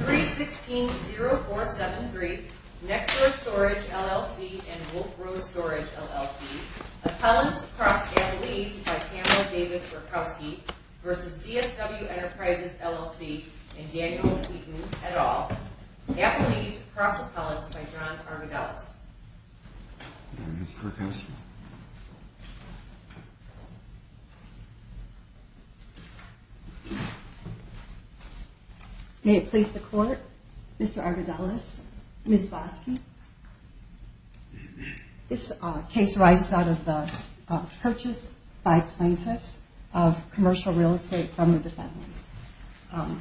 316-0473, Next Door Storage, LLC and Wolf Row Storage, LLC Appellants Across Appellees by Pamela Davis-Rakowski v. DSW Enterprises, LLC and Daniel Wheaton, et al. Appellees Across Appellants by John Armidellis May it please the Court, Mr. Armidellis, Ms. Vosky. This case arises out of the purchase by plaintiffs of commercial real estate from the defendants.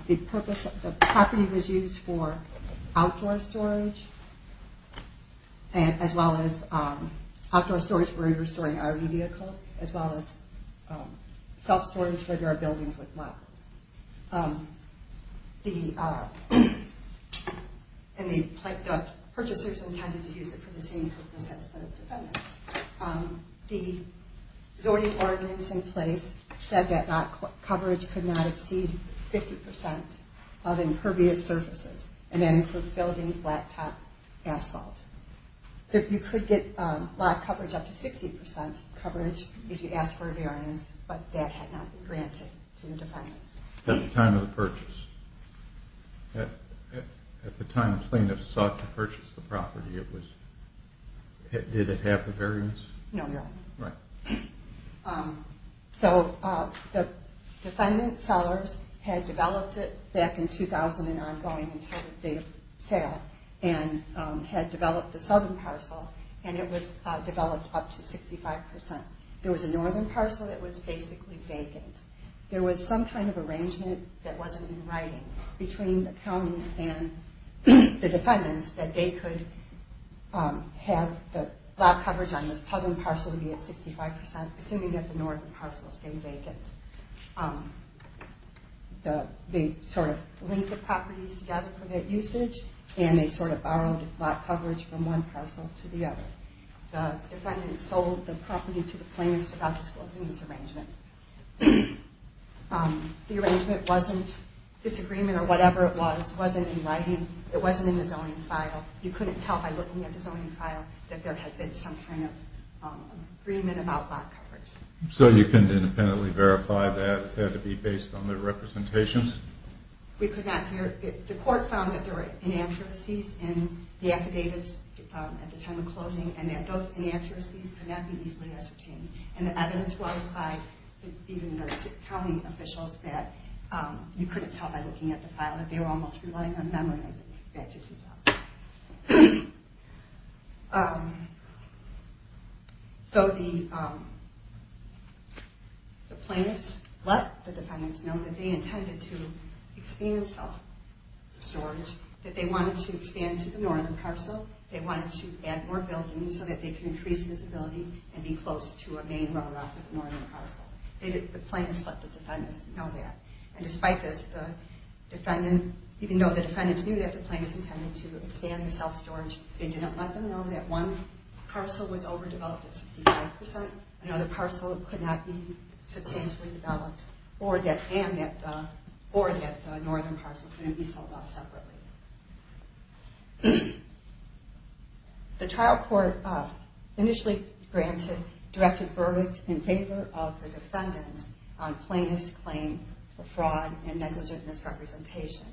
The property was used for outdoor storage as well as outdoor storage for restoring RV vehicles as well as self-storage for their buildings with lockers. The purchasers intended to use it for the same purposes as the defendants. The zoning ordinance in place said that lock coverage could not exceed 50% of impervious surfaces and that includes buildings, blacktop, asphalt. You could get lock coverage up to 60% coverage if you ask for a variance, but that had not been granted to the defendants. At the time of the purchase? At the time the plaintiffs sought to purchase the property, did it have the variance? No, Your Honor. Right. So the defendant sellers had developed it back in 2000 and ongoing until the date of sale and had developed the southern parcel and it was developed up to 65%. There was a northern parcel that was basically vacant. There was some kind of arrangement that wasn't in writing between the county and the defendants that they could have the lock coverage on the southern parcel be at 65% assuming that the northern parcel stayed vacant. They sort of linked the properties together for that usage and they sort of borrowed lock coverage from one parcel to the other. The defendants sold the property to the plaintiffs without disclosing this arrangement. The arrangement wasn't, this agreement or whatever it was, wasn't in writing. It wasn't in the zoning file. You couldn't tell by looking at the zoning file that there had been some kind of agreement about lock coverage. So you couldn't independently verify that? It had to be based on their representations? We could not verify. The court found that there were inaccuracies in the affidavits at the time of closing and that those inaccuracies could not be easily ascertained. And the evidence was by even the county officials that you couldn't tell by looking at the file that they were almost relying on memory back to 2000. So the plaintiffs let the defendants know that they intended to expand self-storage, that they wanted to expand to the northern parcel, they wanted to add more buildings so that they could increase visibility and be close to a main road off of the northern parcel. The plaintiffs let the defendants know that. And despite this, even though the defendants knew that the plaintiffs intended to expand the self-storage, they didn't let them know that one parcel was overdeveloped at 65%, another parcel could not be substantially developed, and that the northern parcel couldn't be sold off separately. The trial court initially directed verdict in favor of the defendants on plaintiff's claim for fraud and negligent misrepresentation.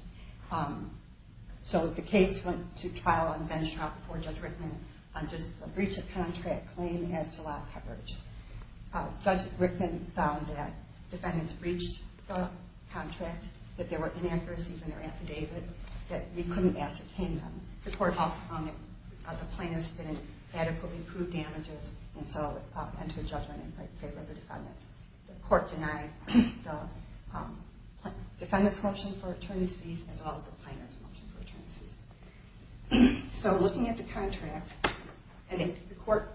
So the case went to trial on bench trial before Judge Rickman on just a breach of contract claim as to lot coverage. Judge Rickman found that defendants breached the contract, that there were inaccuracies in their affidavit, that we couldn't ascertain them. The court also found that the plaintiffs didn't adequately prove damages and so entered judgment in favor of the defendants. The court denied the defendants' motion for attorney's fees as well as the plaintiffs' motion for attorney's fees. So looking at the contract, and the court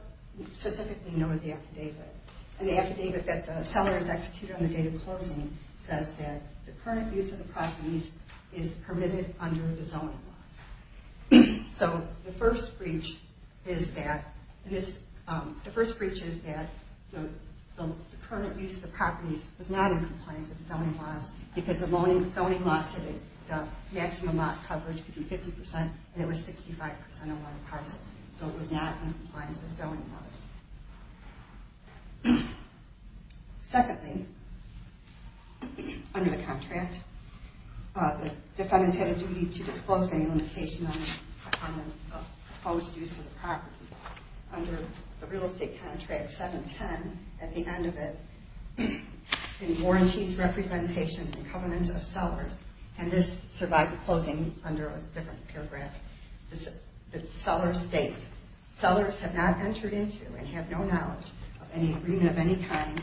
specifically noted the affidavit, and the affidavit that the seller has executed on the day of closing says that the current use of the properties is permitted under the zoning laws. So the first breach is that the current use of the properties was not in compliance with the zoning laws, because the zoning laws said that the maximum lot coverage could be 50%, and it was 65% of all the parcels. So it was not in compliance with zoning laws. Secondly, under the contract, the defendants had a duty to disclose any limitation on the proposed use of the property. Under the real estate contract 710, at the end of it, in warranties, representations, and covenants of sellers, and this survived the closing under a different paragraph, the seller states, sellers have not entered into and have no knowledge of any agreement of any kind,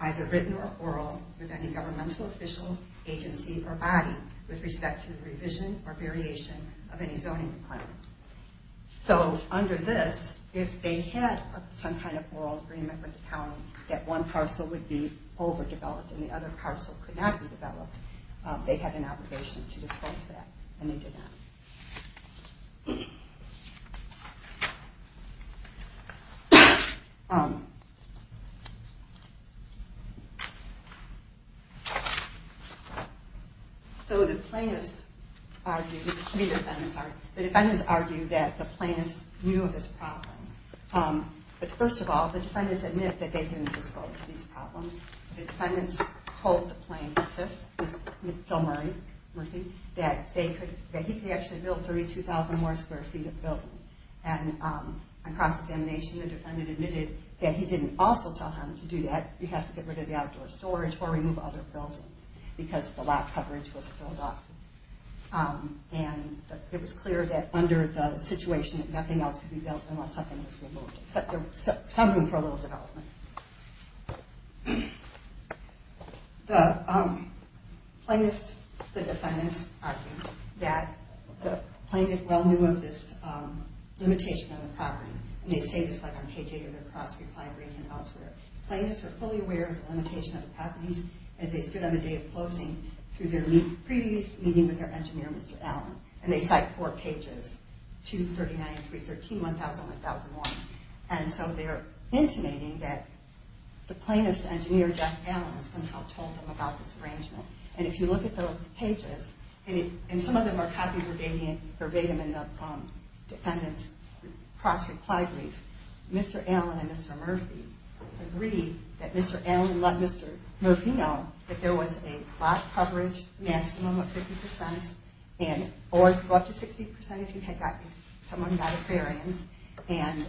either written or oral, with any governmental official, agency, or body with respect to the revision or variation of any zoning requirements. So under this, if they had some kind of oral agreement with the county that one parcel would be overdeveloped and the other parcel could not be developed, they had an obligation to disclose that, and they did not. So the plaintiffs argued, the defendants argued, the defendants argued that the plaintiffs knew of this problem. But first of all, the defendants admit that they didn't disclose these problems. The defendants told the plaintiffs, that he could actually build 32,000 more square feet of building. And on cross-examination, the defendant admitted that he didn't also tell him to do that. You have to get rid of the outdoor storage or remove other buildings because the lot coverage was filled up. And it was clear that under the situation that nothing else could be built unless something was removed, except there was some room for a little development. The plaintiffs, the defendants, argued that the plaintiff well knew of this limitation on the property. And they say this like on page 8 of their cross-reply brief and elsewhere. Plaintiffs were fully aware of the limitation of the properties as they stood on the day of closing through their previous meeting with their engineer, Mr. Allen. And they cite four pages, 239 and 313, 1000 and 1001. And so they're intimating that the plaintiff's engineer, Jeff Allen, somehow told them about this arrangement. And if you look at those pages, and some of them are copied verbatim in the defendant's cross-reply brief, Mr. Allen and Mr. Murphy agreed that Mr. Allen let Mr. Murphy know that there was a lot coverage, maximum of 50%, or it could go up to 60% if someone got a variance. And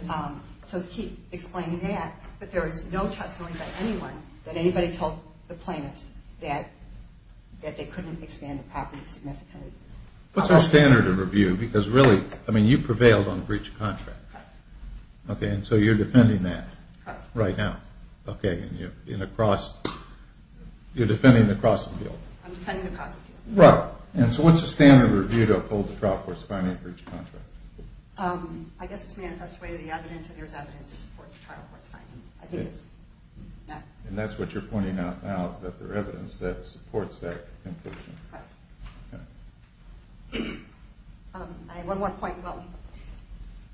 so he explained that. But there was no testimony by anyone that anybody told the plaintiffs that they couldn't expand the property significantly. What's our standard of review? Because really, I mean, you prevailed on breach of contract. Okay, and so you're defending that right now. Okay, and you're defending the crossing deal. I'm defending the crossing deal. Right, and so what's the standard of review to uphold the trial court's finding of breach of contract? I guess it's manifest way of the evidence, and there's evidence to support the trial court's finding. I think it's that. And that's what you're pointing out now, is that there's evidence that supports that conclusion. Right. I have one more point.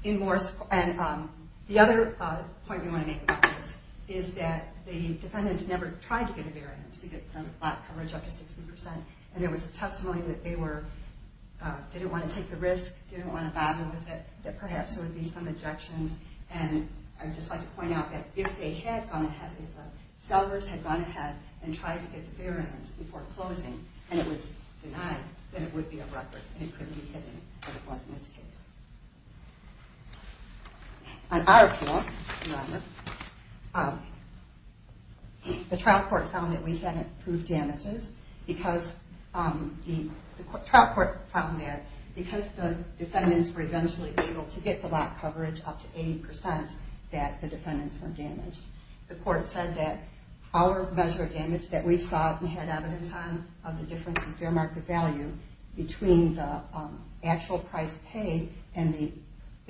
And the other point we want to make about this is that the defendants never tried to get a variance to get coverage up to 60%, and there was testimony that they didn't want to take the risk, didn't want to battle with it, that perhaps there would be some objections. And I'd just like to point out that if they had gone ahead, if the sellers had gone ahead and tried to get the variance before closing, and it was denied, then it would be a record, and it couldn't be hidden, as it was in this case. On our pool, the trial court found that we hadn't proved damages because the trial court found that because the defendants were eventually able to get the lot coverage up to 80% that the defendants weren't damaged. The court said that our measure of damage that we saw and had evidence on of the difference in fair market value between the actual price paid and the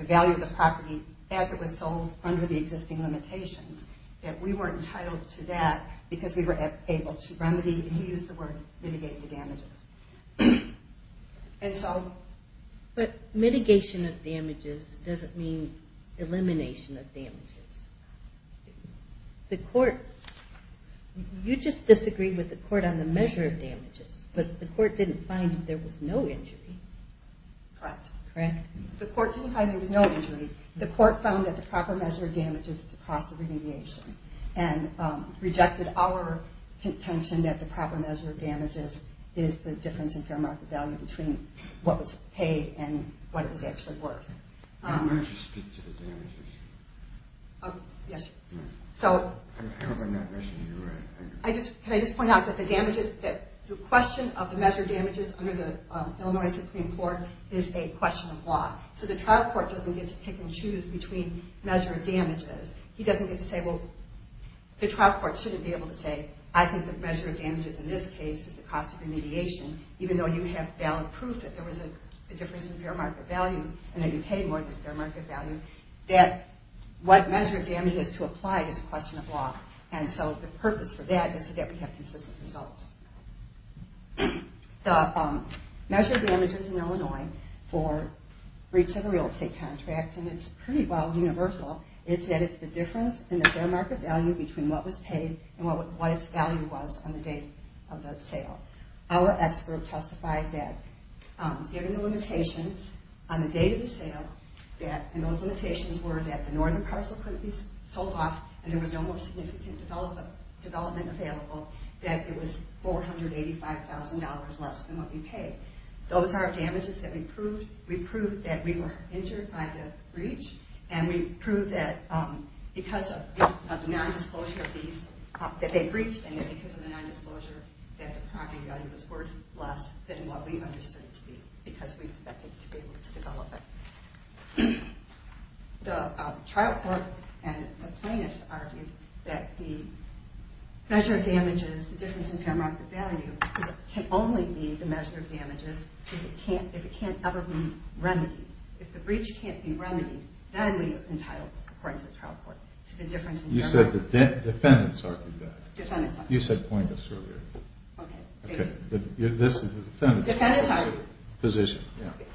value of the property as it was sold under the existing limitations, that we weren't entitled to that because we were able to remedy, to use the word, mitigate the damages. And so... But mitigation of damages doesn't mean elimination of damages. The court... You just disagreed with the court on the measure of damages, but the court didn't find that there was no injury. Correct. Correct? The court didn't find there was no injury. The court found that the proper measure of damages is the cost of remediation, and rejected our contention that the proper measure of damages is the difference in fair market value between what was paid and what was actually worth. Why don't you speak to the damages? Yes. So... I hope I'm not messing you around. Can I just point out that the damages... The question of the measure of damages under the Illinois Supreme Court is a question of law. So the trial court doesn't get to pick and choose between measure of damages. He doesn't get to say, well... The trial court shouldn't be able to say, I think the measure of damages in this case is the cost of remediation, even though you have valid proof that there was a difference in fair market value and that you paid more than fair market value, that what measure of damage is to apply is a question of law. And so the purpose for that is so that we have consistent results. The measure of damages in Illinois for breach of a real estate contract, and it's pretty well universal, is that it's the difference in the fair market value between what was paid and what its value was on the date of the sale. Our expert testified that given the limitations on the date of the sale, and those limitations were that the northern parcel couldn't be sold off and there was no more significant development available, that it was $485,000 less than what we paid. Those are damages that we proved. We proved that we were injured by the breach, and we proved that because of nondisclosure of these, that they breached, and because of the nondisclosure, that the property value was worth less than what we understood it to be because we expected to be able to develop it. The trial court and the plaintiffs argued that the measure of damages, the difference in fair market value, can only be the measure of damages if it can't ever be remedied. If the breach can't be remedied, then we entitle it, according to the trial court, to the difference in fair market value. You said the defendants argued that. You said plaintiffs earlier. Okay. This is the defendants' position.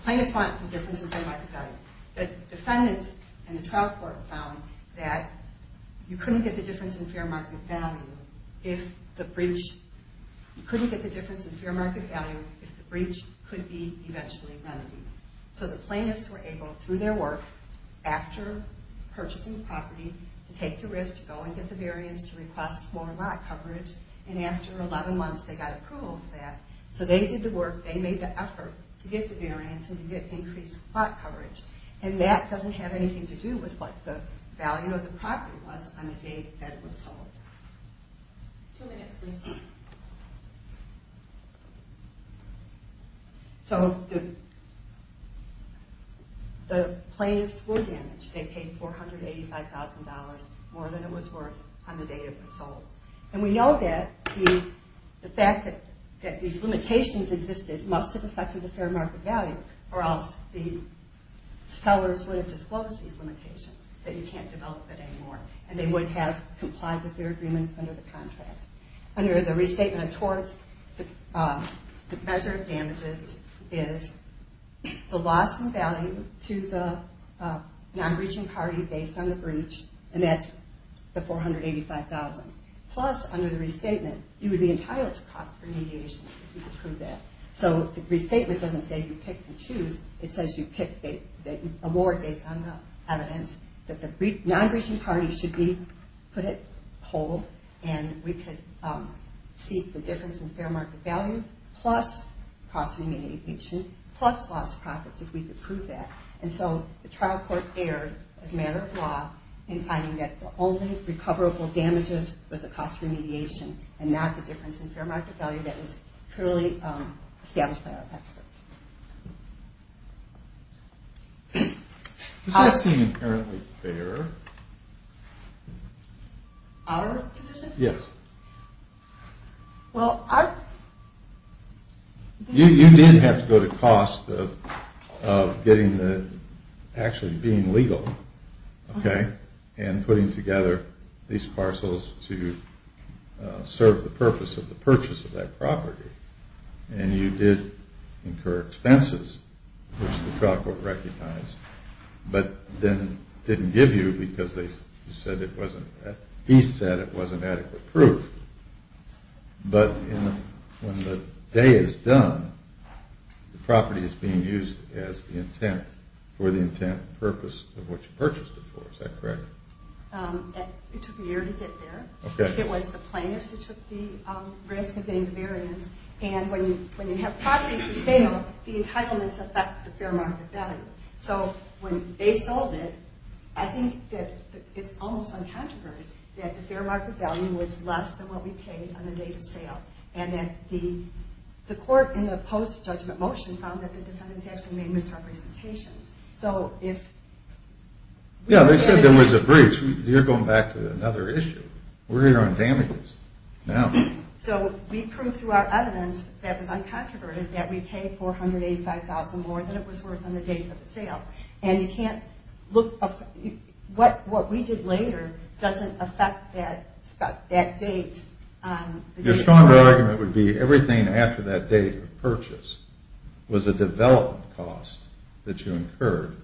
Plaintiffs argued the difference in fair market value. The defendants and the trial court found that you couldn't get the difference in fair market value if the breach, you couldn't get the difference in fair market value if the breach could be eventually remedied. So the plaintiffs were able, through their work, after purchasing the property, to take the risk to go and get the variance to request more lot coverage. And after 11 months, they got approval for that. So they did the work. They made the effort to get the variance and to get increased lot coverage. And that doesn't have anything to do with what the value of the property was on the day that it was sold. Two minutes, please. So the plaintiffs were damaged. They paid $485,000 more than it was worth on the day it was sold. And we know that the fact that these limitations existed must have affected the fair market value or else the sellers would have disclosed these limitations, that you can't develop it anymore. And they would have complied with their agreements under the contract. Under the restatement of torts, the measure of damages is the loss in value to the non-breaching party based on the breach, and that's the $485,000. Plus, under the restatement, you would be entitled to cost remediation if you could prove that. So the restatement doesn't say you pick and choose. It says you pick a ward based on the evidence that the non-breaching party should be, put it whole, and we could see the difference in fair market value plus cost remediation plus loss of profits if we could prove that. And so the trial court erred as a matter of law in finding that the only recoverable damages was the cost remediation and not the difference in fair market value that was clearly established by our expert. Does that seem apparently fair? Our decision? Yes. Well, I... You did have to go to cost of getting the, actually being legal, okay, and putting together these parcels to serve the purpose of the purchase of that property. And you did incur expenses, which the trial court recognized, but then didn't give you because they said it wasn't, he said it wasn't adequate proof. But when the day is done, the property is being used as the intent for the intent and purpose of what you purchased it for. Is that correct? It took a year to get there. Okay. It was the plaintiffs who took the risk of getting the variance. And when you have property for sale, the entitlements affect the fair market value. So when they sold it, I think that it's almost uncontroversial that the fair market value was less than what we paid on the date of sale. And that the court in the post-judgment motion found that the defendants actually made misrepresentations. So if... Yeah, they said there was a breach. You're going back to another issue. We're here on damages now. So we proved through our evidence that was uncontroverted that we paid $485,000 more than it was worth on the date of the sale. And you can't look... What we did later doesn't affect that date. Your stronger argument would be everything after that date of purchase was a development cost that you incurred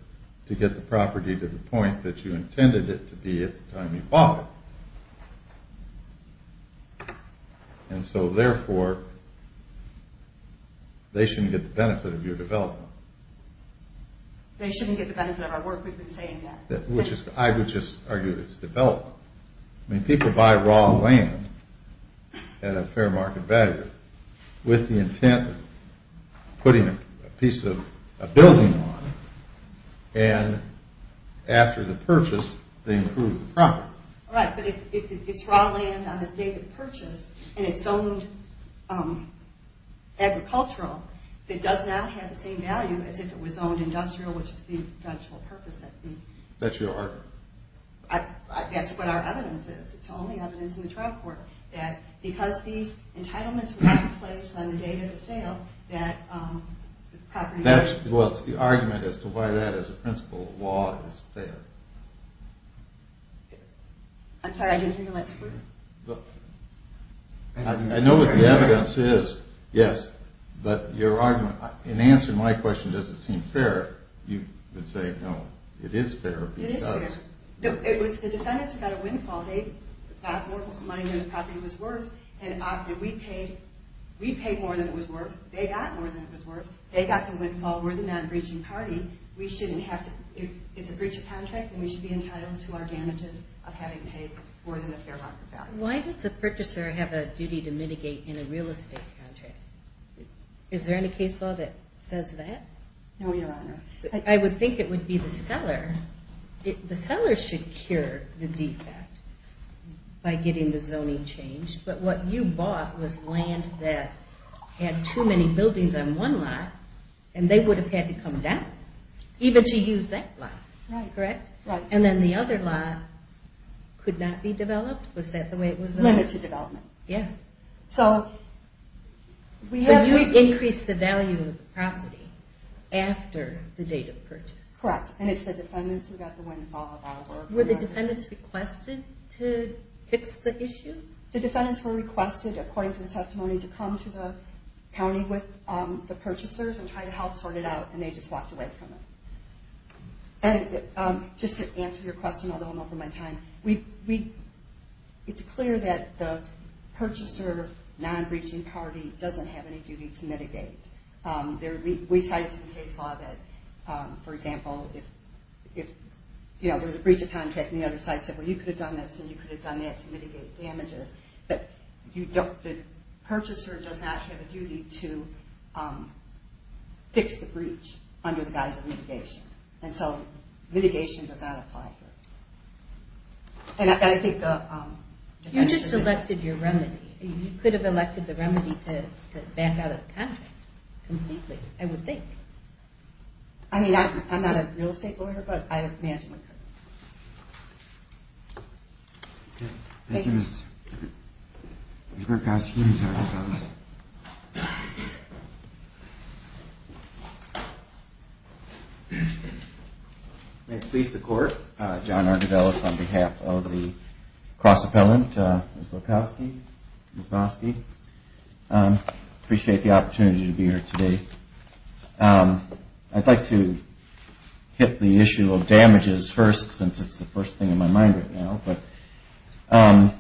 to get the property to the point that you intended it to be at the time you bought it. And so therefore, they shouldn't get the benefit of your development. They shouldn't get the benefit of our work. We've been saying that. I would just argue that it's development. I mean, people buy raw land at a fair market value with the intent of putting a piece of a building on it. And after the purchase, they improve the property. Right, but if it's raw land on the date of purchase and it's owned agricultural, it does not have the same value as if it was owned industrial, which is the eventual purpose. That's your argument. That's what our evidence is. It's the only evidence in the trial court that because these entitlements were not in place on the date of the sale, that the property... Well, it's the argument as to why that as a principle of law is fair. I'm sorry, I didn't hear the last word. I know what the evidence is, yes, but your argument... In answering my question, does it seem fair, you would say, no, it is fair because... It is fair. It was the defendants who got a windfall. They got more money than the property was worth. And after we paid, we paid more than it was worth, they got more than it was worth, they got the windfall. We're the non-breaching party. It's a breach of contract and we should be entitled to our damages of having paid more than the fair market value. Why does a purchaser have a duty to mitigate in a real estate contract? Is there any case law that says that? No, Your Honor. I would think it would be the seller. The seller should cure the defect by getting the zoning changed, but what you bought was land that had too many buildings on one lot, and they would have had to come down even to use that lot, correct? And then the other lot could not be developed, was that the way it was? Limited development. So you increased the value of the property after the date of purchase? Correct, and it's the defendants who got the windfall. Were the defendants requested to fix the issue? The defendants were requested, according to the testimony, to come to the county with the purchasers and try to help sort it out, and they just walked away from it. Just to answer your question, although I'm over my time, it's clear that the purchaser non-breaching party doesn't have any duty to mitigate. We cited some case law that, for example, if there was a breach of contract and the other side said, well, you could have done this and you could have done that to mitigate damages, but the purchaser does not have a duty to fix the breach under the guise of mitigation. And so mitigation does not apply here. And I think the defendants... You just elected your remedy. You could have elected the remedy to back out of the contract completely, I would think. I mean, I'm not a real estate lawyer, but I imagine that. Thank you. May it please the Court, John Argidellis on behalf of the cross-appellant, Ms. Wachowski, Ms. Bosky. Appreciate the opportunity to be here today. I'd like to get the issue of damages first since it's the first thing in my mind right now. But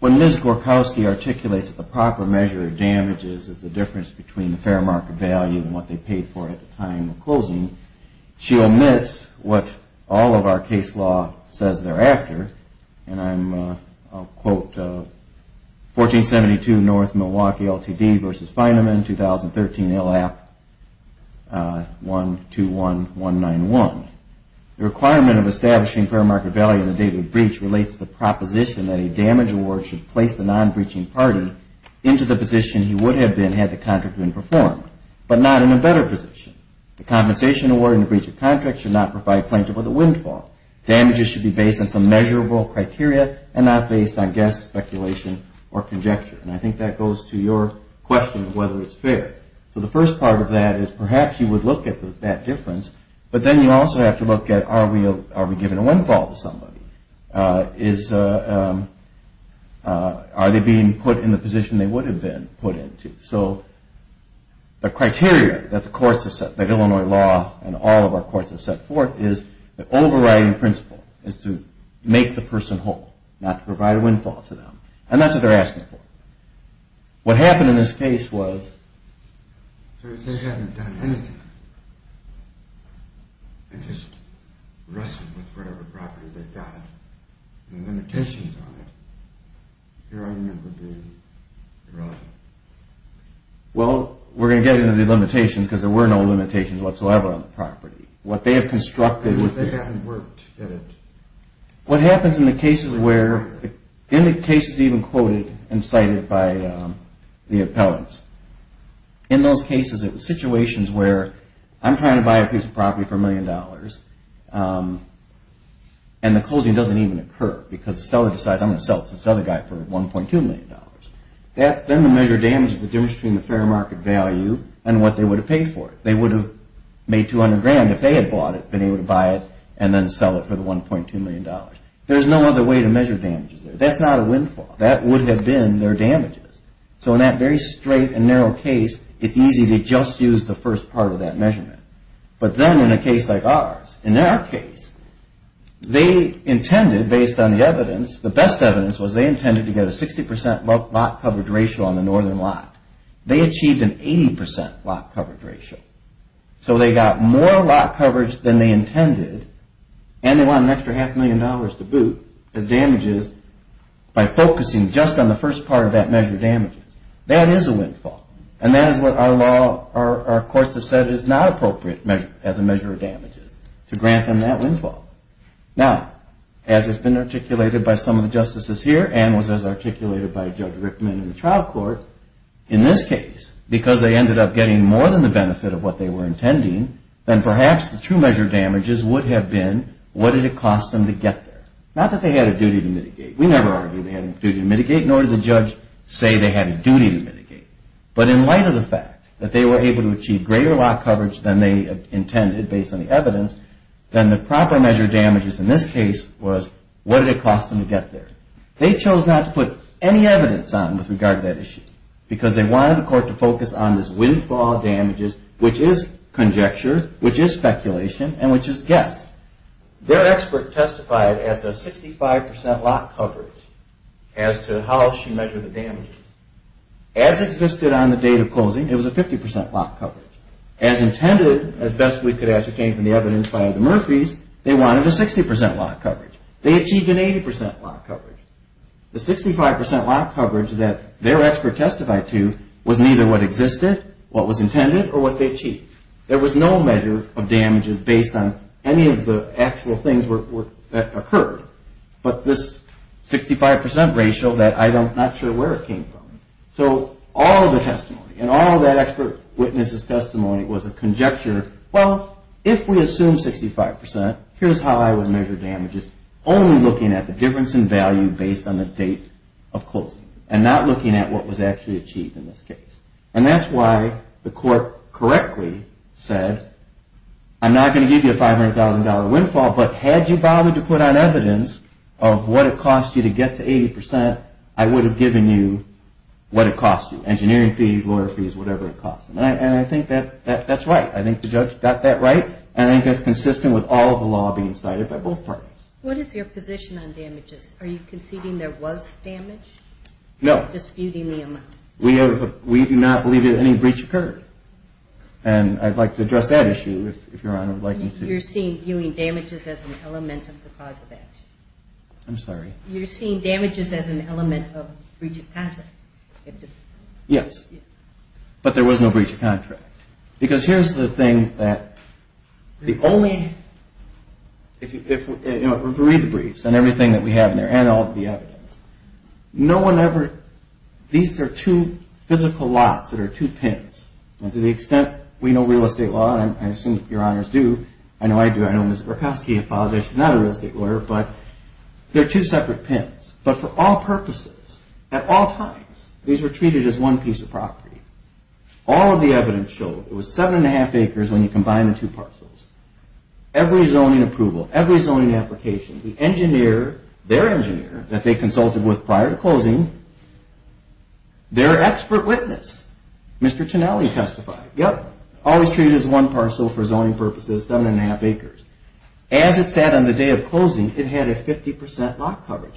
when Ms. Gorkowski articulates that the proper measure of damages is the difference between the fair market value and what they paid for at the time of closing, she omits what all of our case law says thereafter. And I'll quote 1472 North Milwaukee LTD v. Feynman 2013 ILAP 121 191. The requirement of establishing fair market value on the date of the breach relates to the proposition that a damage award should place the non-breaching party into the position he would have been had the contract been performed, but not in a better position. The compensation awarded in the breach of contract should not provide plaintiff with a windfall. Damages should be based on some measurable criteria and not based on guess, speculation, or conjecture. And I think that goes to your question of whether it's fair. So the first part of that is perhaps you would look at that difference, but then you also have to look at are we giving a windfall to somebody? Are they being put in the position they would have been put into? So the criteria that the courts have set, that Illinois law and all of our courts have set forth is the overriding principle is to make the person whole, not to provide a windfall to them. And that's what they're asking for. What happened in this case was... So if they hadn't done anything and just wrestled with whatever property they got and the limitations on it, your argument would be irrelevant. Well, we're going to get into the limitations because there were no limitations whatsoever on the property. What they have constructed... What happens in the cases where in the cases even quoted and cited by the appellants, in those cases it was situations where I'm trying to buy a piece of property for a million dollars and the closing doesn't even occur because the seller decides I'm going to sell it to this other guy for 1.2 million dollars. Then the measure of damage is the difference between the fair market value and what they would have paid for it. They would have made 200 grand if they had bought it, been able to buy it and then sell it for the 1.2 million dollars. There's no other way to measure damages there. That's not a windfall. That would have been their damages. So in that very straight and narrow case, it's easy to just use the first part of that measurement. But then in a case like ours, in our case, they intended, based on the evidence, the best evidence was they intended to get a 60% lot coverage ratio on the northern lot. They achieved an 80% lot coverage ratio. So they got more lot coverage than they intended and they wanted an extra half million dollars to boot as damages by focusing just on the first part of that measure of damages. That is a windfall. And that is what our courts have said is not appropriate as a measure of damages to grant them that windfall. Now, as has been articulated by some of the justices here and was as articulated by Judge Rickman in the trial court, in this case because they ended up getting more than the benefit of what they were intending, then perhaps the true measure of damages would have been, what did it cost them to get there? Not that they had a duty to mitigate. We never argued they had a duty to mitigate nor did the judge say they had a duty to mitigate. But in light of the fact that they were able to achieve greater lot coverage than they intended, based on the evidence, then the proper measure of damages in this case was what did it cost them to get there? They chose not to put any evidence on with regard to that issue because they wanted the court to focus on this windfall of damages, which is conjecture, which is speculation, and which is guess. Their expert testified as a 65% lot coverage as to how she measured the damages. As existed on the date of closing, it was a 50% lot coverage. As intended, as best we could ascertain from the evidence by the Murphys, they wanted a 60% lot coverage. They achieved an 80% lot coverage. The 65% lot coverage that their expert testified to was neither what existed, what was intended, or what they achieved. There was no measure of damages based on any of the actual things that occurred, but this 65% ratio that I'm not sure where it came from. So all the testimony, and all that expert witness' testimony was a conjecture, well, if we assume 65%, here's how I would measure damages, only looking at the difference in value based on the date of closing, and not looking at what was actually achieved in this case. And that's why the court correctly said I'm not going to give you a $500,000 windfall, but had you bothered to put on evidence of what it cost you to get to 80%, I would have given you what it cost you, engineering fees, lawyer fees, whatever it cost. And I think that's right. I think the judge got that right, and I think that's consistent with all of the law being cited by both parties. What is your position on damages? Are you disputing the amount? No. We do not believe that any breach occurred. And I'd like to address that issue if Your Honor would like me to. You're seeing damages as an element of the cause of action. I'm sorry? You're seeing damages as an element of breach of contract. Yes. But there was no breach of contract. Because here's the thing that the only if we read the briefs, and everything that we have in there, and all these are two physical lots that are two pins. And to the extent we know real estate law, and I assume Your Honors do, I know I do, I know Ms. Borkoski, I apologize, she's not a real estate lawyer, but they're two separate pins. But for all purposes, at all times, these were treated as one piece of property. All of the evidence showed it was seven and a half acres when you combine the two parcels. Every zoning approval, every zoning application, the engineer, their engineer, that they consulted with prior to closing, their expert witness, Mr. Tonelli testified, yep, always treated as one parcel for zoning purposes, seven and a half acres. As it sat on the day of closing, it had a 50% lot coverage.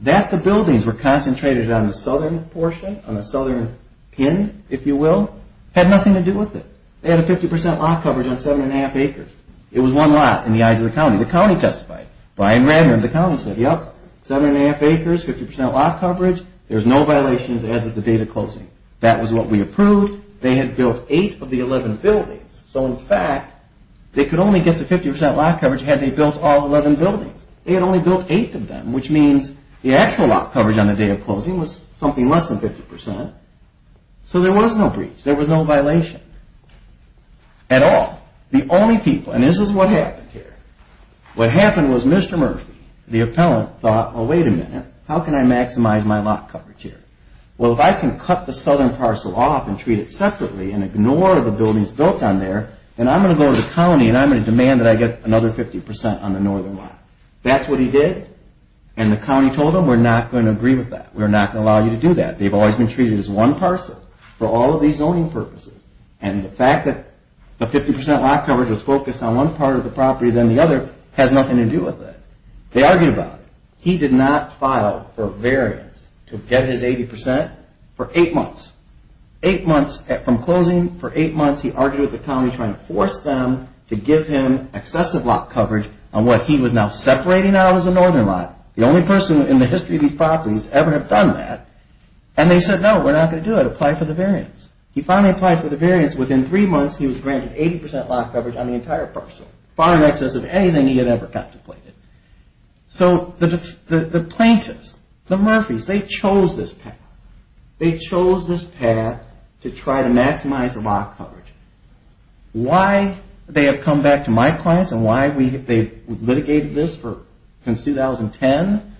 That the buildings were concentrated on the southern portion, on the southern pin, if you will, had nothing to do with it. They had a 50% lot coverage on seven and a half acres. It was one lot in the eyes of the county. The county testified. Brian said, seven and a half acres, 50% lot coverage, there's no violations as of the day of closing. That was what we approved. They had built eight of the 11 buildings. So in fact, they could only get the 50% lot coverage had they built all 11 buildings. They had only built eight of them, which means the actual lot coverage on the day of closing was something less than 50%. So there was no breach. There was no violation. At all. The only people, and this is what happened here, what happened was Mr. Murphy, the appellant, thought, well wait a minute. How can I maximize my lot coverage here? Well, if I can cut the southern parcel off and treat it separately and ignore the buildings built on there, then I'm going to go to the county and I'm going to demand that I get another 50% on the northern lot. That's what he did. And the county told them, we're not going to agree with that. We're not going to allow you to do that. They've always been treated as one parcel for all of these zoning purposes. And the fact that the 50% lot coverage was focused on one part of the property than the other has nothing to do with it. They argued about it. He did not file for variance to get his 80% for eight months. Eight months from closing, for eight months, he argued with the county trying to force them to give him excessive lot coverage on what he was now separating out as a northern lot. The only person in the history of these properties to ever have done that. And they said, no, we're not going to do it. Apply for the variance. He finally applied for the variance. Within three months, he was granted 80% lot coverage per parcel. Far in excess of anything he had ever contemplated. So, the plaintiffs, the Murphys, they chose this path. They chose this path to try to maximize the lot coverage. Why they have come back to my clients and why they litigated this since 2010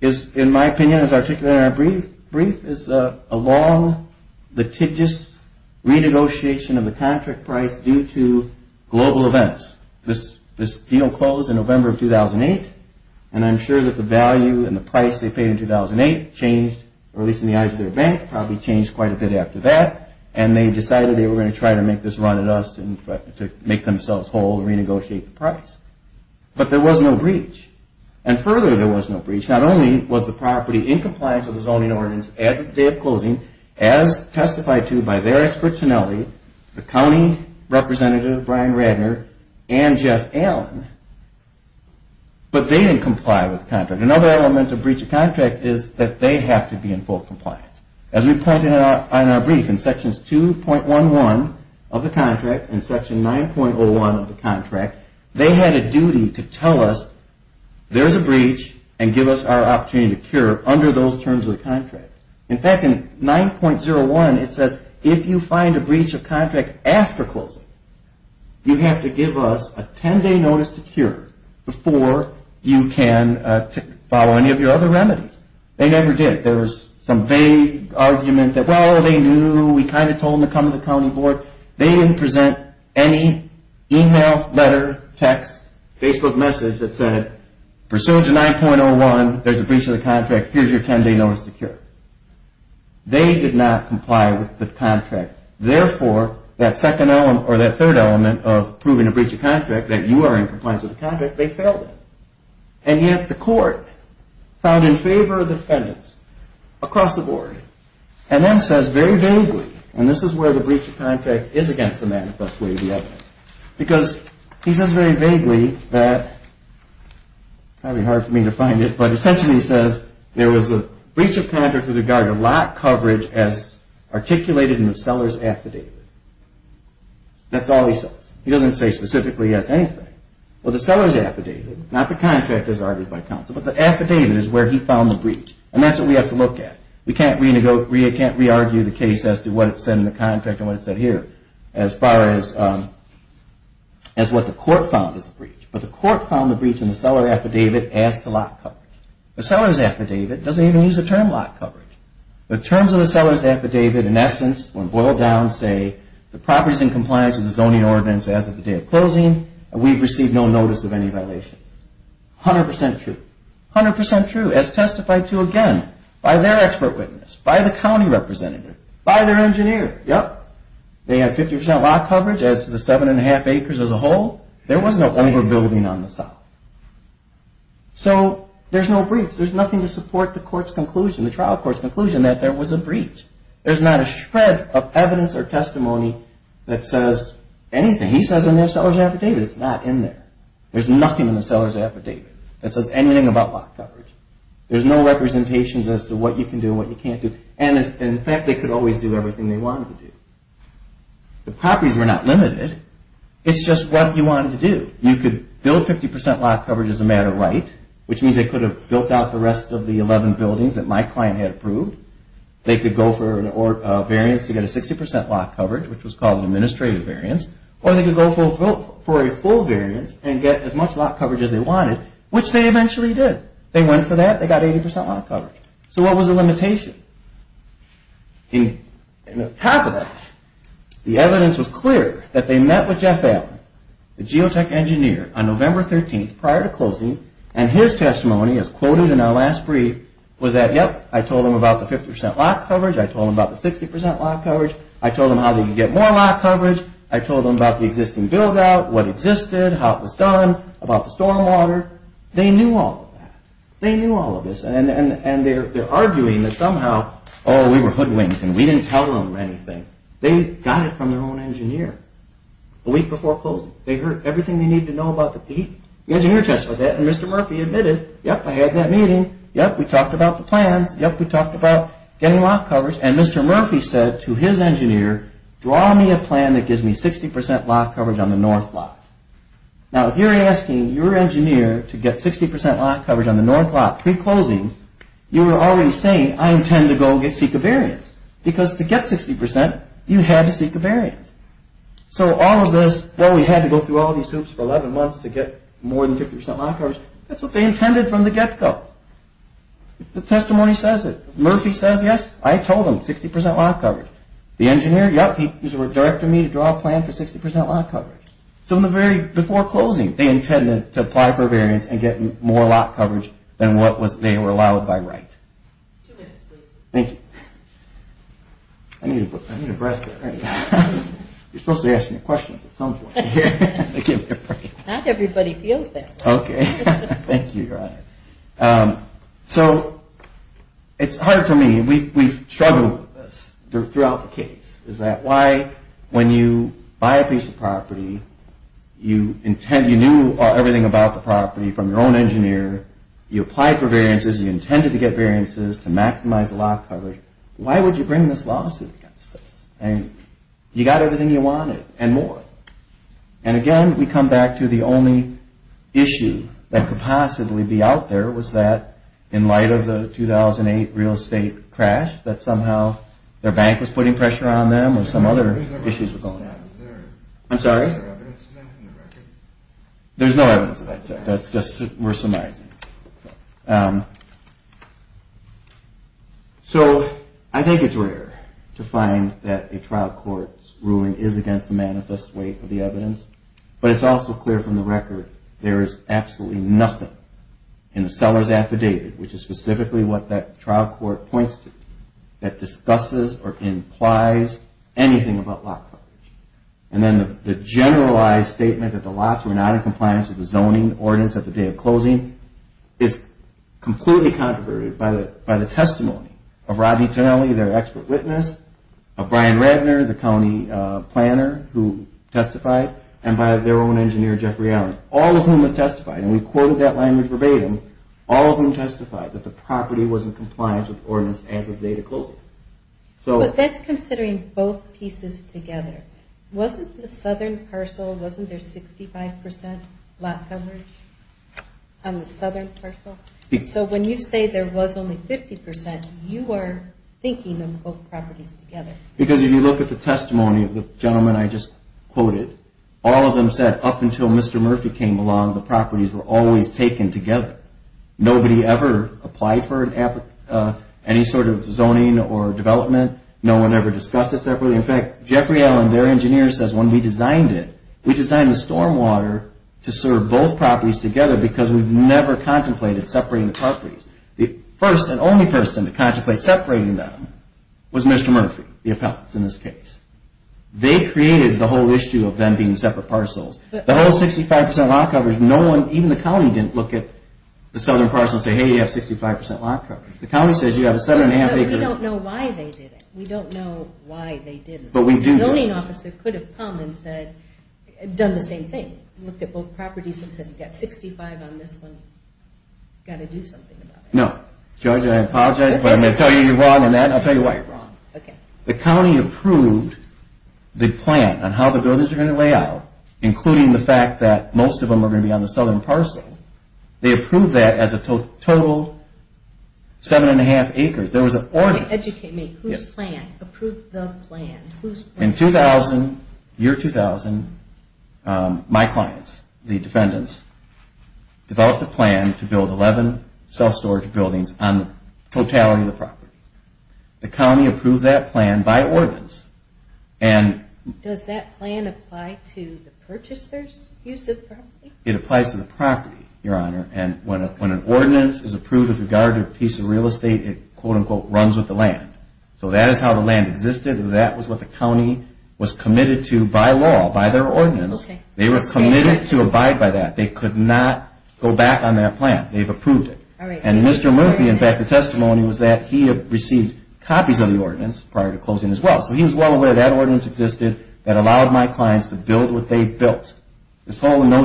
is, in my opinion, as articulated in our brief, is a long litigious renegotiation of the contract price due to global events. This deal closed in November of 2008 and I'm sure that the value and the price they paid in 2008 changed or at least in the eyes of their bank probably changed quite a bit after that and they decided they were going to try to make this run at us to make themselves whole and renegotiate the price. But there was no breach. And further there was no breach. Not only was the property in compliance with the zoning ordinance as of the day of closing, as testified to by their expert finale, the county representative, Brian Radner and Jeff Allen, but they didn't comply with the contract. Another element of breach of contract is that they have to be in full compliance. As we pointed out in our brief, in sections 2.11 of the contract and section 9.01 of the contract, they had a duty to tell us there's a breach and give us our opportunity to cure under those terms of the contract. In fact in 9.01 it says if you find a breach of contract after closing, you have to give us a 10 day notice to cure before you can follow any of your other remedies. They never did. There was some vague argument that, well they knew, we kind of told them to come to the county board. They didn't present any email, letter, text, Facebook message that said, pursuant to 9.01 there's a breach of the contract, here's your 10 day notice to cure. They did not comply with the contract. Therefore, that second element, or that third element of proving a breach of contract, that you are in compliance with the contract, they failed it. And yet the court found in favor of the defendants across the board, and then says very vaguely, and this is where the breach of contract is against the manifest way of the evidence, because he says very vaguely that probably hard for me to find it, but essentially he says there was a breach of contract with regard to lot coverage as articulated in the seller's affidavit. That's all he says. He doesn't say specifically he asked anything. Well the seller's affidavit, not the contract as argued by counsel, but the affidavit is where he found the breach. And that's what we have to look at. We can't re-argue the case as to what it said in the contract and what it said here, as far as what the court found as a breach. But the court found the breach in the seller's affidavit. The seller's affidavit doesn't even use the term lot coverage. The terms of the seller's affidavit in essence when boiled down say the property is in compliance with the zoning ordinance as of the day of closing, and we've received no notice of any violations. 100% true. 100% true as testified to again by their expert witness, by the county representative, by their engineer. Yep. They have 50% lot coverage as to the 7 1⁄2 acres as a whole. There was no over building on the site. So there's no breach. There's nothing to support the court's conclusion, the trial court's conclusion that there was a breach. There's not a shred of evidence or testimony that says anything. He says in their seller's affidavit it's not in there. There's nothing in the seller's affidavit that says anything about lot coverage. There's no representations as to what you can do and what you can't do. And in fact they could always do everything they wanted to do. The properties were not limited. It's just what you wanted to do. You could build 50% lot coverage as a matter of right, which means they could have built out the rest of the 11 buildings that my client had approved. They could go for a variance to get a 60% lot coverage, which was called an administrative variance. Or they could go for a full variance and get as much lot coverage as they wanted, which they eventually did. They went for that. They got 80% lot coverage. So what was the limitation? And on top of that, the evidence was clear that they met with Jeff Allen, the geotech engineer, on November 13th prior to closing, and his testimony as quoted in our last brief was that, yep, I told them about the 50% lot coverage, I told them about the 60% lot coverage, I told them how they could get more lot coverage, I told them about the existing build out, what existed, how it was done, about the storm water. They knew all of that. They knew all of this. And they're arguing that somehow, oh we were hoodwinked and we didn't tell them anything. They got it from their own engineer. A week before closing, they heard everything they needed to know about the peak, the engineer testified that, and Mr. Murphy admitted, yep, I had that meeting, yep, we talked about the plans, yep, we talked about getting lot coverage, and Mr. Murphy said to his engineer, draw me a plan that gives me 60% lot coverage on the north lot. Now if you're asking your engineer to get 60% lot coverage on the north lot pre-closing, you were already saying, I intend to go seek a variance. Because to get 60%, you had to seek a variance. So all of this, well we had to go through all these hoops for 11 months to get more than 50% lot coverage, that's what they intended from the get-go. The testimony says it. Murphy says yes, I told them, 60% lot coverage. The engineer, yep, he directed me to draw a plan for 60% lot coverage. So in the very, before closing, they intended to apply for a variance and get more lot coverage than what they were allowed by right. Two minutes, please. Thank you. I need a breath of air. You're supposed to be asking me questions at some point. Not everybody feels that way. Thank you, Your Honor. So, it's hard for me, we've struggled throughout the case, is that why when you buy a piece of property, you knew everything about the property from your own engineer, you intended to get variances to maximize the lot coverage, why would you bring this lawsuit against us? You got everything you wanted, and more. And again, we come back to the only issue that could possibly be out there was that, in light of the 2008 real estate crash, that somehow their bank was putting pressure on them or some other issues were going on. I'm sorry? There's no evidence of that. That's just, we're summarizing. So, I think it's rare to find that a trial court's ruling is against the manifest weight of the evidence, but it's also clear from the record, there is absolutely nothing in the seller's affidavit, which is specifically what that trial court points to, that discusses or implies anything about lot coverage. And then the generalized statement that the lots were not in compliance with the zoning ordinance at the day of closing is completely controversial by the testimony of Rodney Tonelli, their expert witness, of Brian Radner, the county planner who testified, and by their own engineer, Jeffrey Allen, all of whom have testified, and we've quoted that language verbatim, all of whom testified that the property wasn't compliant with the ordinance as of the day of closing. But that's considering both pieces together. Wasn't the southern parcel, wasn't there 65% lot coverage on the southern parcel? So when you say there was only 50%, you are thinking of both properties together. Because if you look at the testimony of the gentleman I just quoted, all of them said, up until Mr. Murphy came along, the properties were always taken together. Nobody ever applied for any sort of zoning or development. No one ever discussed it separately. In fact, Jeffrey Allen, their engineer, says when we designed it, we designed the storm water to serve both properties together because we've never contemplated separating the properties. The first and only person to contemplate separating them was Mr. Murphy, the appellant in this case. They created the whole issue of them being separate parcels. The whole 65% lot coverage, no one, even the county, didn't look at the southern parcel and say, hey, you have 65% lot coverage. The county says you have a 7.5 acre... But we don't know why they did it. We don't know why they didn't. The zoning officer could have come and said, done the same thing. Looked at both properties and said, you've got 65 on this one, got to do something about it. No. Judge, I apologize, but I'm going to tell you you're wrong on that and I'll tell you why. The county approved the plan on how the buildings are going to lay out, including the fact that most of them are going to be on the southern parcel. They approved that as a total 7.5 acres. There was an ordinance. Educate me. Approved the plan. In 2000, year 2000, my clients, the defendants, developed a plan to build 11 self-storage buildings on the totality of the property. The county approved that plan by ordinance. Does that plan apply to the purchaser's use of the property? It applies to the property, Your Honor. When an ordinance is approved with regard to a piece of real estate, it quote-unquote runs with the land. That is how the land existed. That was what the county was committed to by law, by their ordinance. They were committed to abide by that. They could not go back on that plan. They've approved it. Mr. Murphy, in fact, the testimony was that he had received copies of the ordinance prior to closing as well. He was well aware that ordinance existed that allowed my clients to build what they built. There was no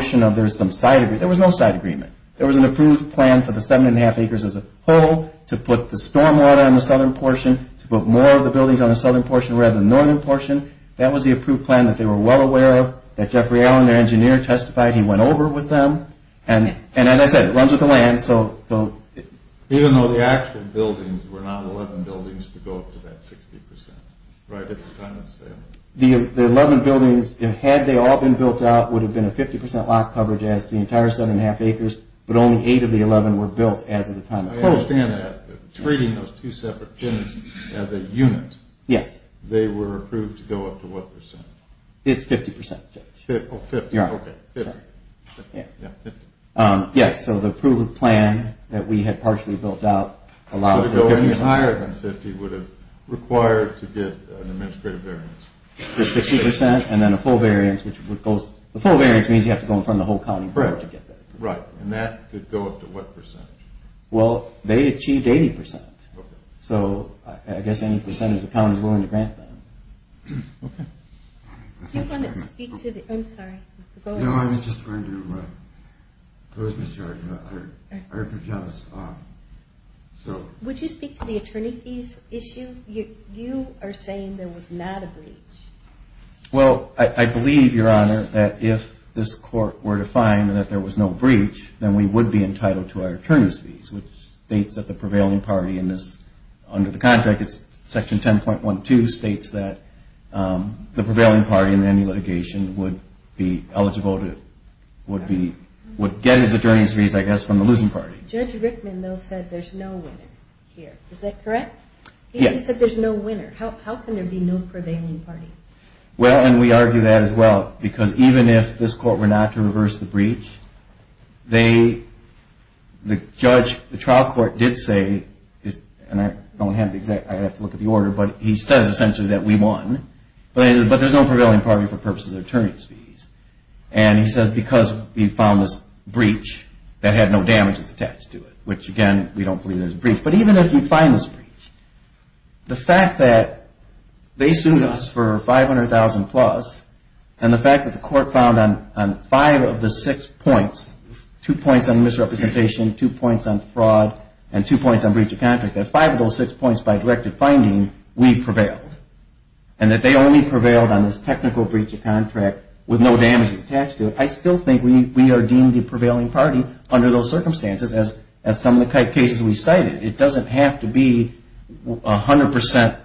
side agreement. There was an approved plan for the stormwater on the southern portion to put more of the buildings on the southern portion rather than the northern portion. That was the approved plan that they were well aware of, that Jeffrey Allen, their engineer, testified he went over with them. As I said, it runs with the land. Even though the actual buildings were not 11 buildings to go up to that 60%, right at the time of the sale? The 11 buildings, had they all been built out, would have been a 50% lot coverage as the entire 7 1⁄2 acres, but only 8 of the 11 were built as of the time of closing. I understand that. Treating those two separate things as a unit. Yes. They were approved to go up to what percentage? It's 50%, Jeff. Oh, 50, okay. Yes, so the approved plan that we had partially built out allowed... Higher than 50 would have required to get an administrative variance. 60% and then a full variance which would go... The full variance means you have to go in front of the whole county board to get that. Right, and that could go up to what percentage? Well, they achieved 80%. Okay. I guess any percentage the county is willing to grant them. Okay. Do you want to speak to the... I'm sorry. No, I was just going to close, Mr. Archibald. Would you speak to the attorney fees issue? You are saying there was not a breach. Well, I believe, Your Honor, that if this court were to find that there was no breach, then we would be entitled to our attorney's fees, which states that the prevailing party in this, under the contract, it's section 10.12 states that the prevailing party in any litigation would be eligible to would get his attorney's fees, I guess, from the losing party. Judge Rickman though said there's no winner here. Is that correct? Yes. He said there's no winner. How can there be no prevailing party? Well, and we argue that as well, because even if this court were not to reverse the breach, they, the judge, the trial court did say and I don't have the exact, I'd have to look at the order, but he says essentially that we won, but there's no prevailing party for purposes of attorney's fees, and he said because we found this breach that had no damages attached to it, which again, we don't believe there's a breach, but even if we find this breach, the fact that they sued us for $500,000 plus and the fact that the court found on five of the six points, two points on misrepresentation, two points on fraud, and two points on breach of contract, that five of those six points by directed finding, we prevailed. And that they only prevailed on this technical breach of contract with no damages attached to it, I still think we are deemed the prevailing party under those circumstances as some of the cases we cited. It doesn't have to be 100%.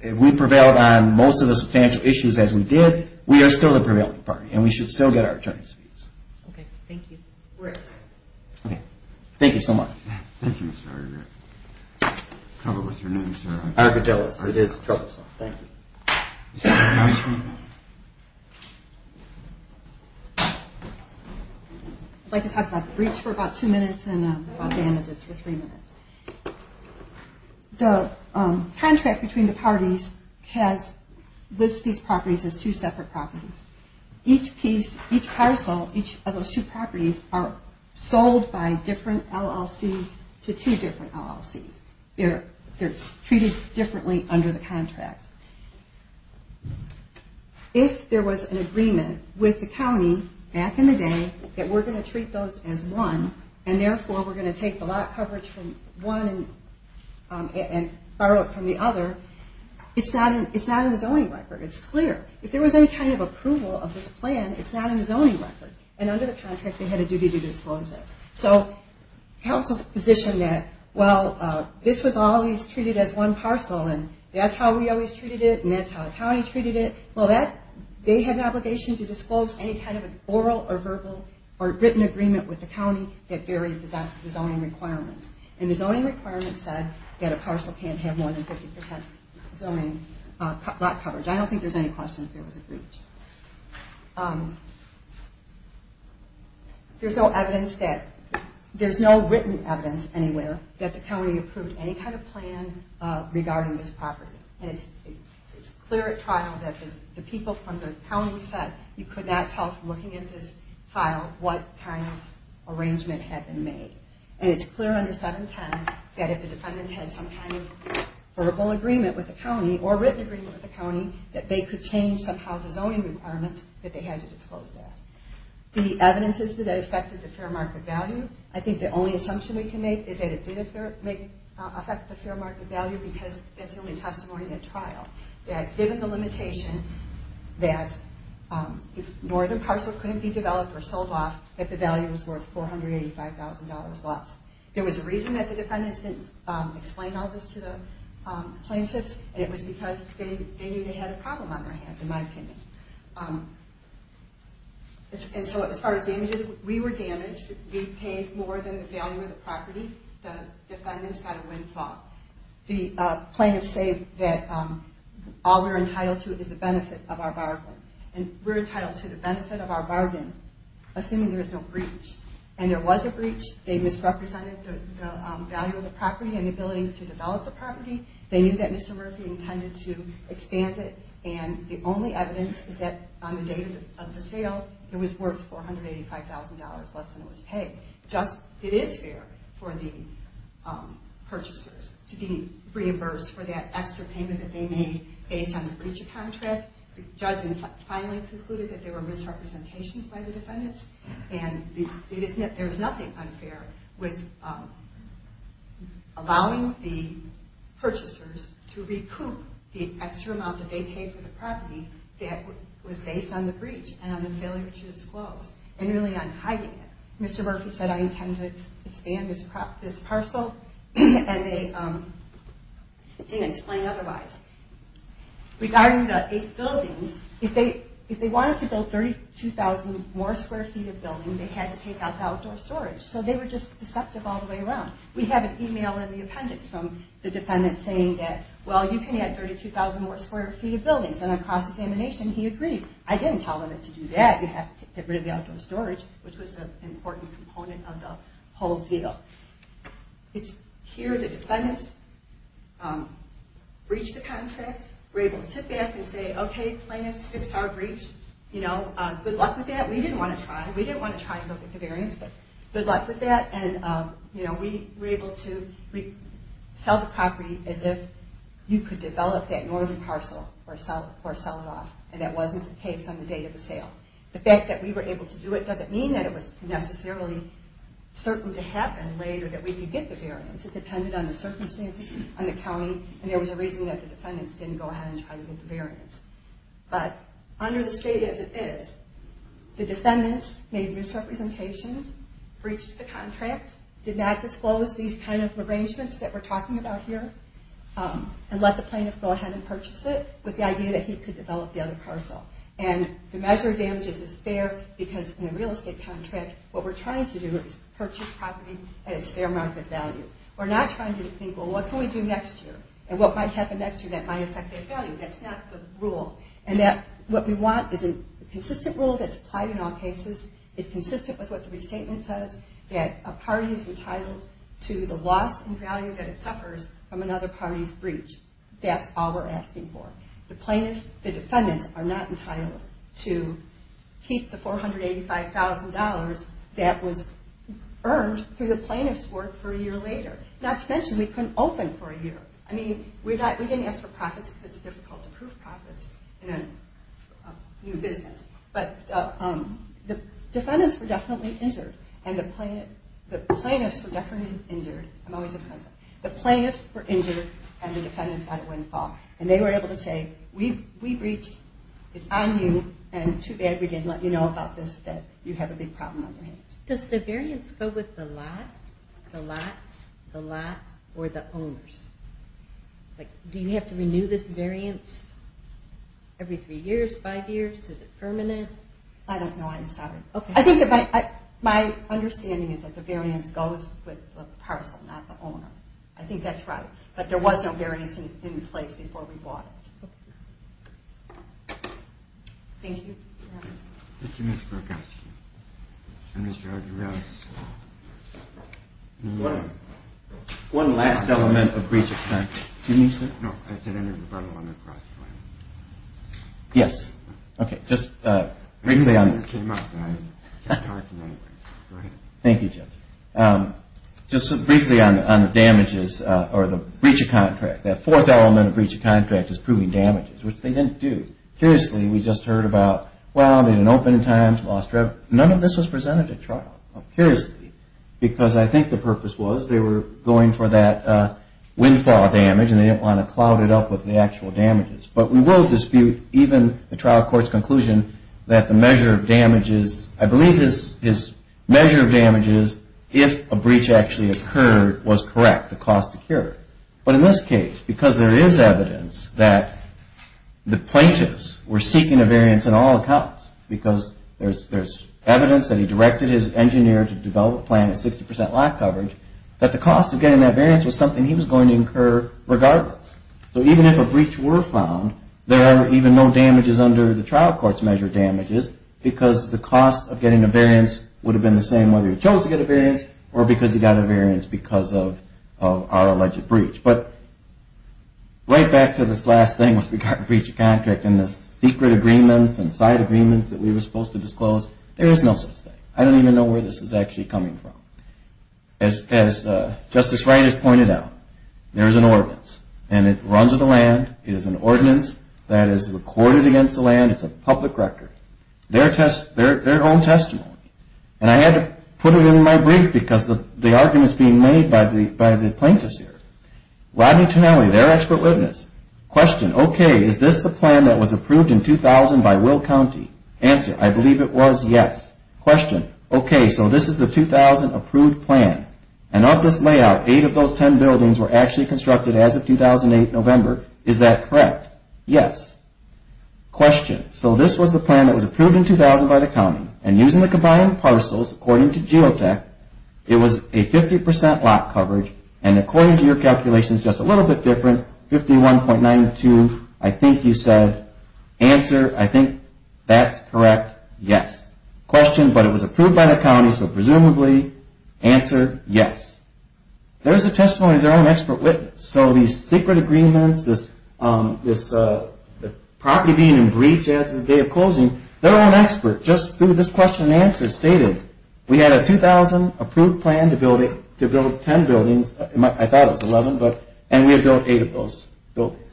If we prevailed on most of the substantial issues as we did, we are still the prevailing party, and we should still get our attorney's fees. Thank you. Thank you so much. I'd like to talk about the breach for about two minutes and about damages for three minutes. The contract between the parties has listed these properties as two separate properties. Each piece, each parcel, each of those two properties are sold by different LLCs to two different LLCs. They're treated differently under the contract. If there was an agreement with the county back in the day that we're going to treat those as one, and therefore we're going to take the lot coverage from one and borrow it from the other, it's not in the zoning record. It's clear. If there was any kind of approval of this plan, it's not in the zoning record. Under the contract, they had a duty to disclose it. Council's position that, well, this was always treated as one parcel, and that's how we always treated it, and that's how the county treated it. They had an obligation to disclose any kind of oral or verbal or written agreement with the county that varied the zoning requirements, and the zoning requirements said that a parcel can't have more than 50% zoning lot coverage. I don't think there's any question that there was a breach. There's no evidence that there's no written evidence anywhere that the county approved any kind of plan regarding this property. It's clear at trial that the people from the county said you could not tell from looking at this file what kind of arrangement had been made. And it's clear under 710 that if the defendants had some kind of verbal agreement with the county or written agreement with the county that they could change somehow the zoning requirements that they had to disclose that. The evidence is that it affected the fair market value. I think the only assumption we can make is that it did affect the fair market value because it's only testimony at trial. That given the limitation that northern parcel couldn't be developed or sold off, that the value was worth $485,000 less. There was a reason that the defendants didn't explain all this to the plaintiffs, and it was because they knew they had a problem on their hands, in my opinion. And so as far as damages, we were damaged. We paid more than the value of the property. The defendants got a windfall. The plaintiffs say that all we're entitled to is the benefit of our bargain, assuming there is no breach. And there was a breach. They misrepresented the value of the property and the ability to develop the property. They knew that Mr. Murphy intended to expand it, and the only evidence is that on the date of the sale it was worth $485,000 less than it was paid. It is fair for the purchasers to be reimbursed for that extra payment that they made based on the breach of contract. The judge finally concluded that there were misrepresentations by the defendants, and there was nothing unfair with allowing the purchasers to recoup the extra amount that they paid for the property that was based on the breach and on the failure to disclose, and really on hiding it. Mr. Murphy said, I intend to expand this parcel, and they didn't explain otherwise. Regarding the eight buildings, if they wanted to build 32,000 more square feet of building, they had to take out the outdoor storage. So they were just deceptive all the way around. We have an email in the appendix from the defendant saying that well, you can add 32,000 more square feet of buildings, and on cross-examination he agreed. I didn't tell them to do that. You have to get rid of the outdoor storage, which was an important component of the whole deal. Here the defendants breached the contract, were able to sit back and say, okay, plaintiffs, fix our breach. Good luck with that. We didn't want to try. We didn't want to try and look at the variance, but good luck with that. We were able to sell the property as if you could develop that northern parcel or sell it off, and that wasn't the case on the date of the sale. The fact that we were able to do it doesn't mean that it was necessarily certain to happen later that we could get the variance. It depended on the circumstances on the county, and there was a reason that the defendants didn't go ahead and try to get the variance. Under the state as it is, the defendants made misrepresentations, breached the contract, did not disclose these kind of arrangements that we're talking about here, and let the plaintiffs go ahead and purchase it with the idea that he could develop the other parcel. The measure of damages is fair because in a real estate contract what we're trying to do is purchase property at its fair market value. We're not trying to think, well, what can we do next year? And what might happen next year that might affect their value. That's not the rule. What we want is a consistent rule that's applied in all cases, it's consistent with what the restatement says, that a party is entitled to the loss in value that it suffers from another party's breach. That's all we're asking for. The defendants are not entitled to keep the $485,000 that was earned through the plaintiff's work for a year later. Not to mention, we couldn't open for a year. I mean, we didn't ask for profits because it's difficult to prove profits in a new business. The defendants were definitely injured and the plaintiffs were definitely injured. The plaintiffs were injured and the defendants had a windfall. And they were able to say, we breached, it's on you, and too bad we didn't let you know about this, that you have a big problem on your hands. Does the variance go with the lot, the lots, the lot, or the owners? Do you have to renew this variance every three years, five years? Is it permanent? I don't know, I'm sorry. I think that my understanding is that the variance goes with the parcel, not the owner. I think that's right. But there was no variance in place before we bought it. Thank you. One last element of breach of contract. Yes. Thank you, Judge. Just briefly on the damages or the breach of contract. That fourth element of breach of contract is proving damages, which they didn't do. Curiously, we just heard about, well, they had an open time, lost revenue. None of this was presented at trial, curiously, because I think the purpose was they were going for that windfall damage and they didn't want to cloud it up with the actual damages. But we will dispute even the trial court's conclusion that the measure of damages, I believe his measure of damages, if a breach actually occurred, was correct, the cost occurred. But in this case, because there is evidence that the plaintiffs were seeking a variance in all accounts because there's evidence that he directed his engineer to develop a plan at 60% lot coverage, that the cost of getting that variance was something he was going to incur regardless. So even if a breach were found, there are even no damages under the trial court's measure of damages because the cost of getting a variance would have been the same whether he chose to get a variance or because he got a variance because of our alleged breach. But right back to this last thing with regard to breach of contract and the secret agreements and side agreements that we were supposed to disclose, there is no such thing. I don't even know where this is actually coming from. As Justice Reines pointed out, there is an ordinance and it runs in the land. It is an ordinance that is recorded against the land. It's a public record. Their own testimony. And I had to put it in my brief because the argument is being made by the plaintiffs here. Rodney Tonelli, their expert witness. Question, okay, is this the plan that was approved in 2000 by Will County? Answer, I believe it was, yes. Question, okay, so this is the 2000 approved plan. And of this layout, 8 of those 10 buildings were actually constructed as of 2008, November. Is that correct? Yes. Question, so this was the plan that was approved in 2000 by the county and using the combined parcels, according to Geotech, it was a 50 percent lot coverage and according to your calculations, just a little bit different, 51.92, I think you said. Answer, I think that's correct. Yes. Question, but it was approved by the county, so presumably answer, yes. There is a testimony of their own expert witness. So these secret agreements, this property being in breach as of the day of closing, their own expert, just through this question and answer, stated, we had a 2000 approved plan to build 10 buildings, I thought it was 11, and we had built 8 of those buildings.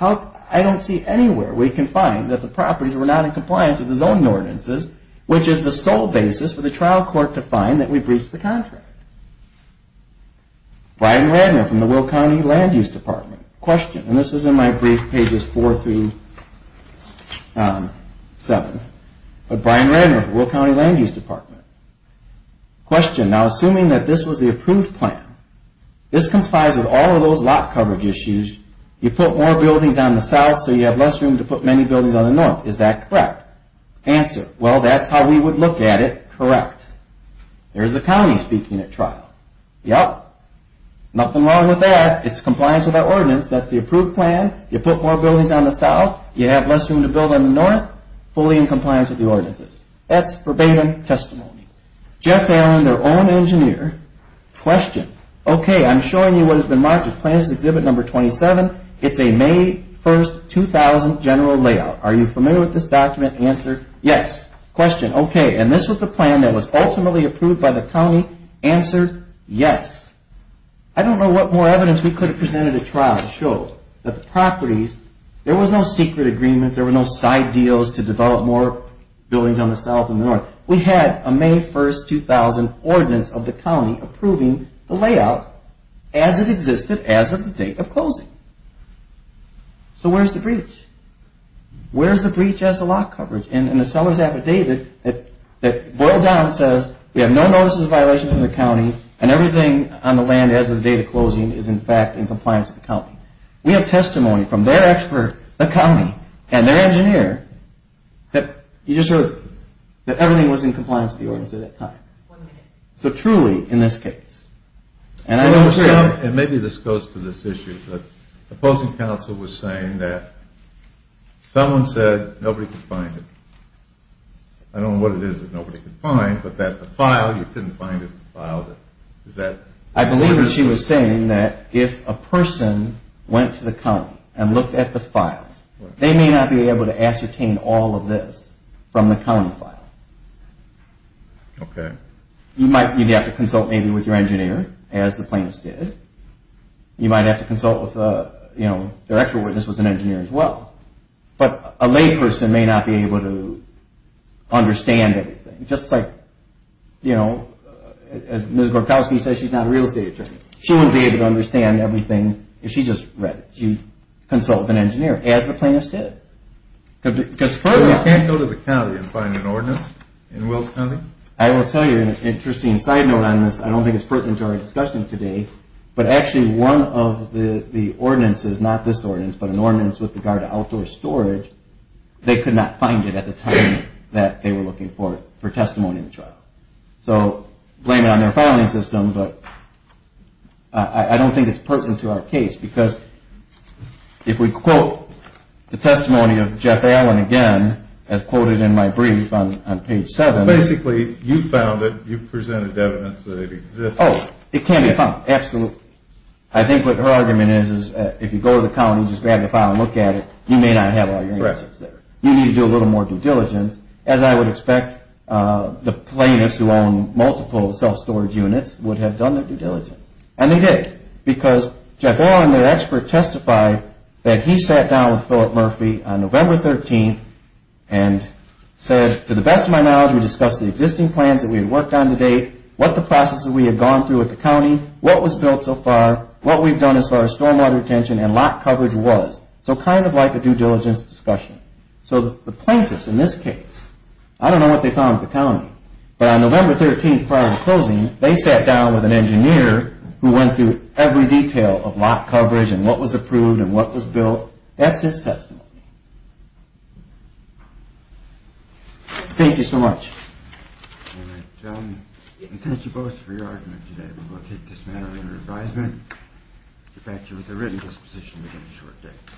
I don't see anywhere we can find that the properties were not in compliance with the zoning ordinances, which is the sole basis for the trial court to find that we breached the contract. Brian Radner from the Will County Land Use Department. Question, and this is in my brief, pages 4 through 7, but Brian Radner from the Will County Land Use Department. Question, now assuming that this was the approved plan, this complies with all of those lot coverage issues, you put more buildings on the south so you have less room to put many buildings on the north, is that correct? Answer, well that's how we would look at it, correct. There's the county speaking at trial. Yep. Nothing wrong with that, it's compliance with our ordinance, that's the approved plan, you put more buildings on the south, you have less room to build on the north, fully in compliance with the ordinances. That's verbatim testimony. Jeff Allen, their own engineer. Question, okay, I'm showing you what has been marked as plan exhibit number 27, it's a May 1st 2000 general layout. Are you familiar with this document? Answer, yes. Question, okay, and this was the plan that was ultimately approved by the county. Answer, yes. I don't know what more evidence we could have presented at trial to show that the properties, there was no secret agreement, there were no side deals to develop more buildings on the south and the north. We had a May 1st 2000 ordinance of the county approving the layout as it existed as of the date of closing. So where's the breach? Where's the breach as to lot coverage? And the seller's affidavit that boiled down says we have no notices of violations in the county and everything on the land as of the date of closing is in fact in compliance with the county. We have testimony from their expert, the county, and their engineer, that you just heard, that everything was in compliance with the ordinance at that time. So truly, in this case, and I know it's real. And maybe this goes to this issue, but opposing counsel was saying that someone said nobody could find it. I don't know what it is that nobody could find, but that the file, you couldn't find it, I believe that she was saying that if a person went to the county and looked at the files, they may not be able to ascertain all of this from the county file. Okay. You'd have to consult maybe with your engineer as the plaintiffs did. You might have to consult with you know, their actual witness was an engineer as well. But a lay person may not be able to understand everything. Just like you know, as Ms. Borkowski says, she's not a real estate attorney. She wouldn't be able to understand everything if she just read it. You'd consult with an engineer as the plaintiffs did. You can't go to the county and find an ordinance in Wilkes County? I will tell you an interesting side note on this, I don't think it's pertinent to our discussion today, but actually one of the ordinances, not this ordinance, but an ordinance with regard to outdoor storage, they could not find it at the time that they were looking for testimony in the trial. So, blame it on their filing system, but I don't think it's pertinent to our case, because if we quote the testimony of Jeff Allen again, as quoted in my brief on page 7. Basically you found it, you presented evidence that it exists. Oh, it can be found. Absolutely. I think what her argument is, is if you go to the county and just grab the file and look at it, you may not have all your answers there. You need to do a little more due diligence, as I would expect the plaintiffs who own multiple self-storage units would have done their due diligence. And they did. Because Jeff Allen, their expert, testified that he sat down with Philip Murphy on November 13th and said to the best of my knowledge, we discussed the existing plans that we had worked on to date, what the processes we had gone through at the county, what was built so far, what we've done as far as stormwater retention and lot coverage was. So, kind of like a due diligence discussion. So, the plaintiffs in this case, I don't know what they found at the county, but on November 13th prior to closing, they sat down with an engineer who went through every detail of lot coverage and what was approved and what was built. That's his testimony. Thank you so much. Thank you both for your argument today. We will take this matter under advisement. In fact, with a written disposition within a short day.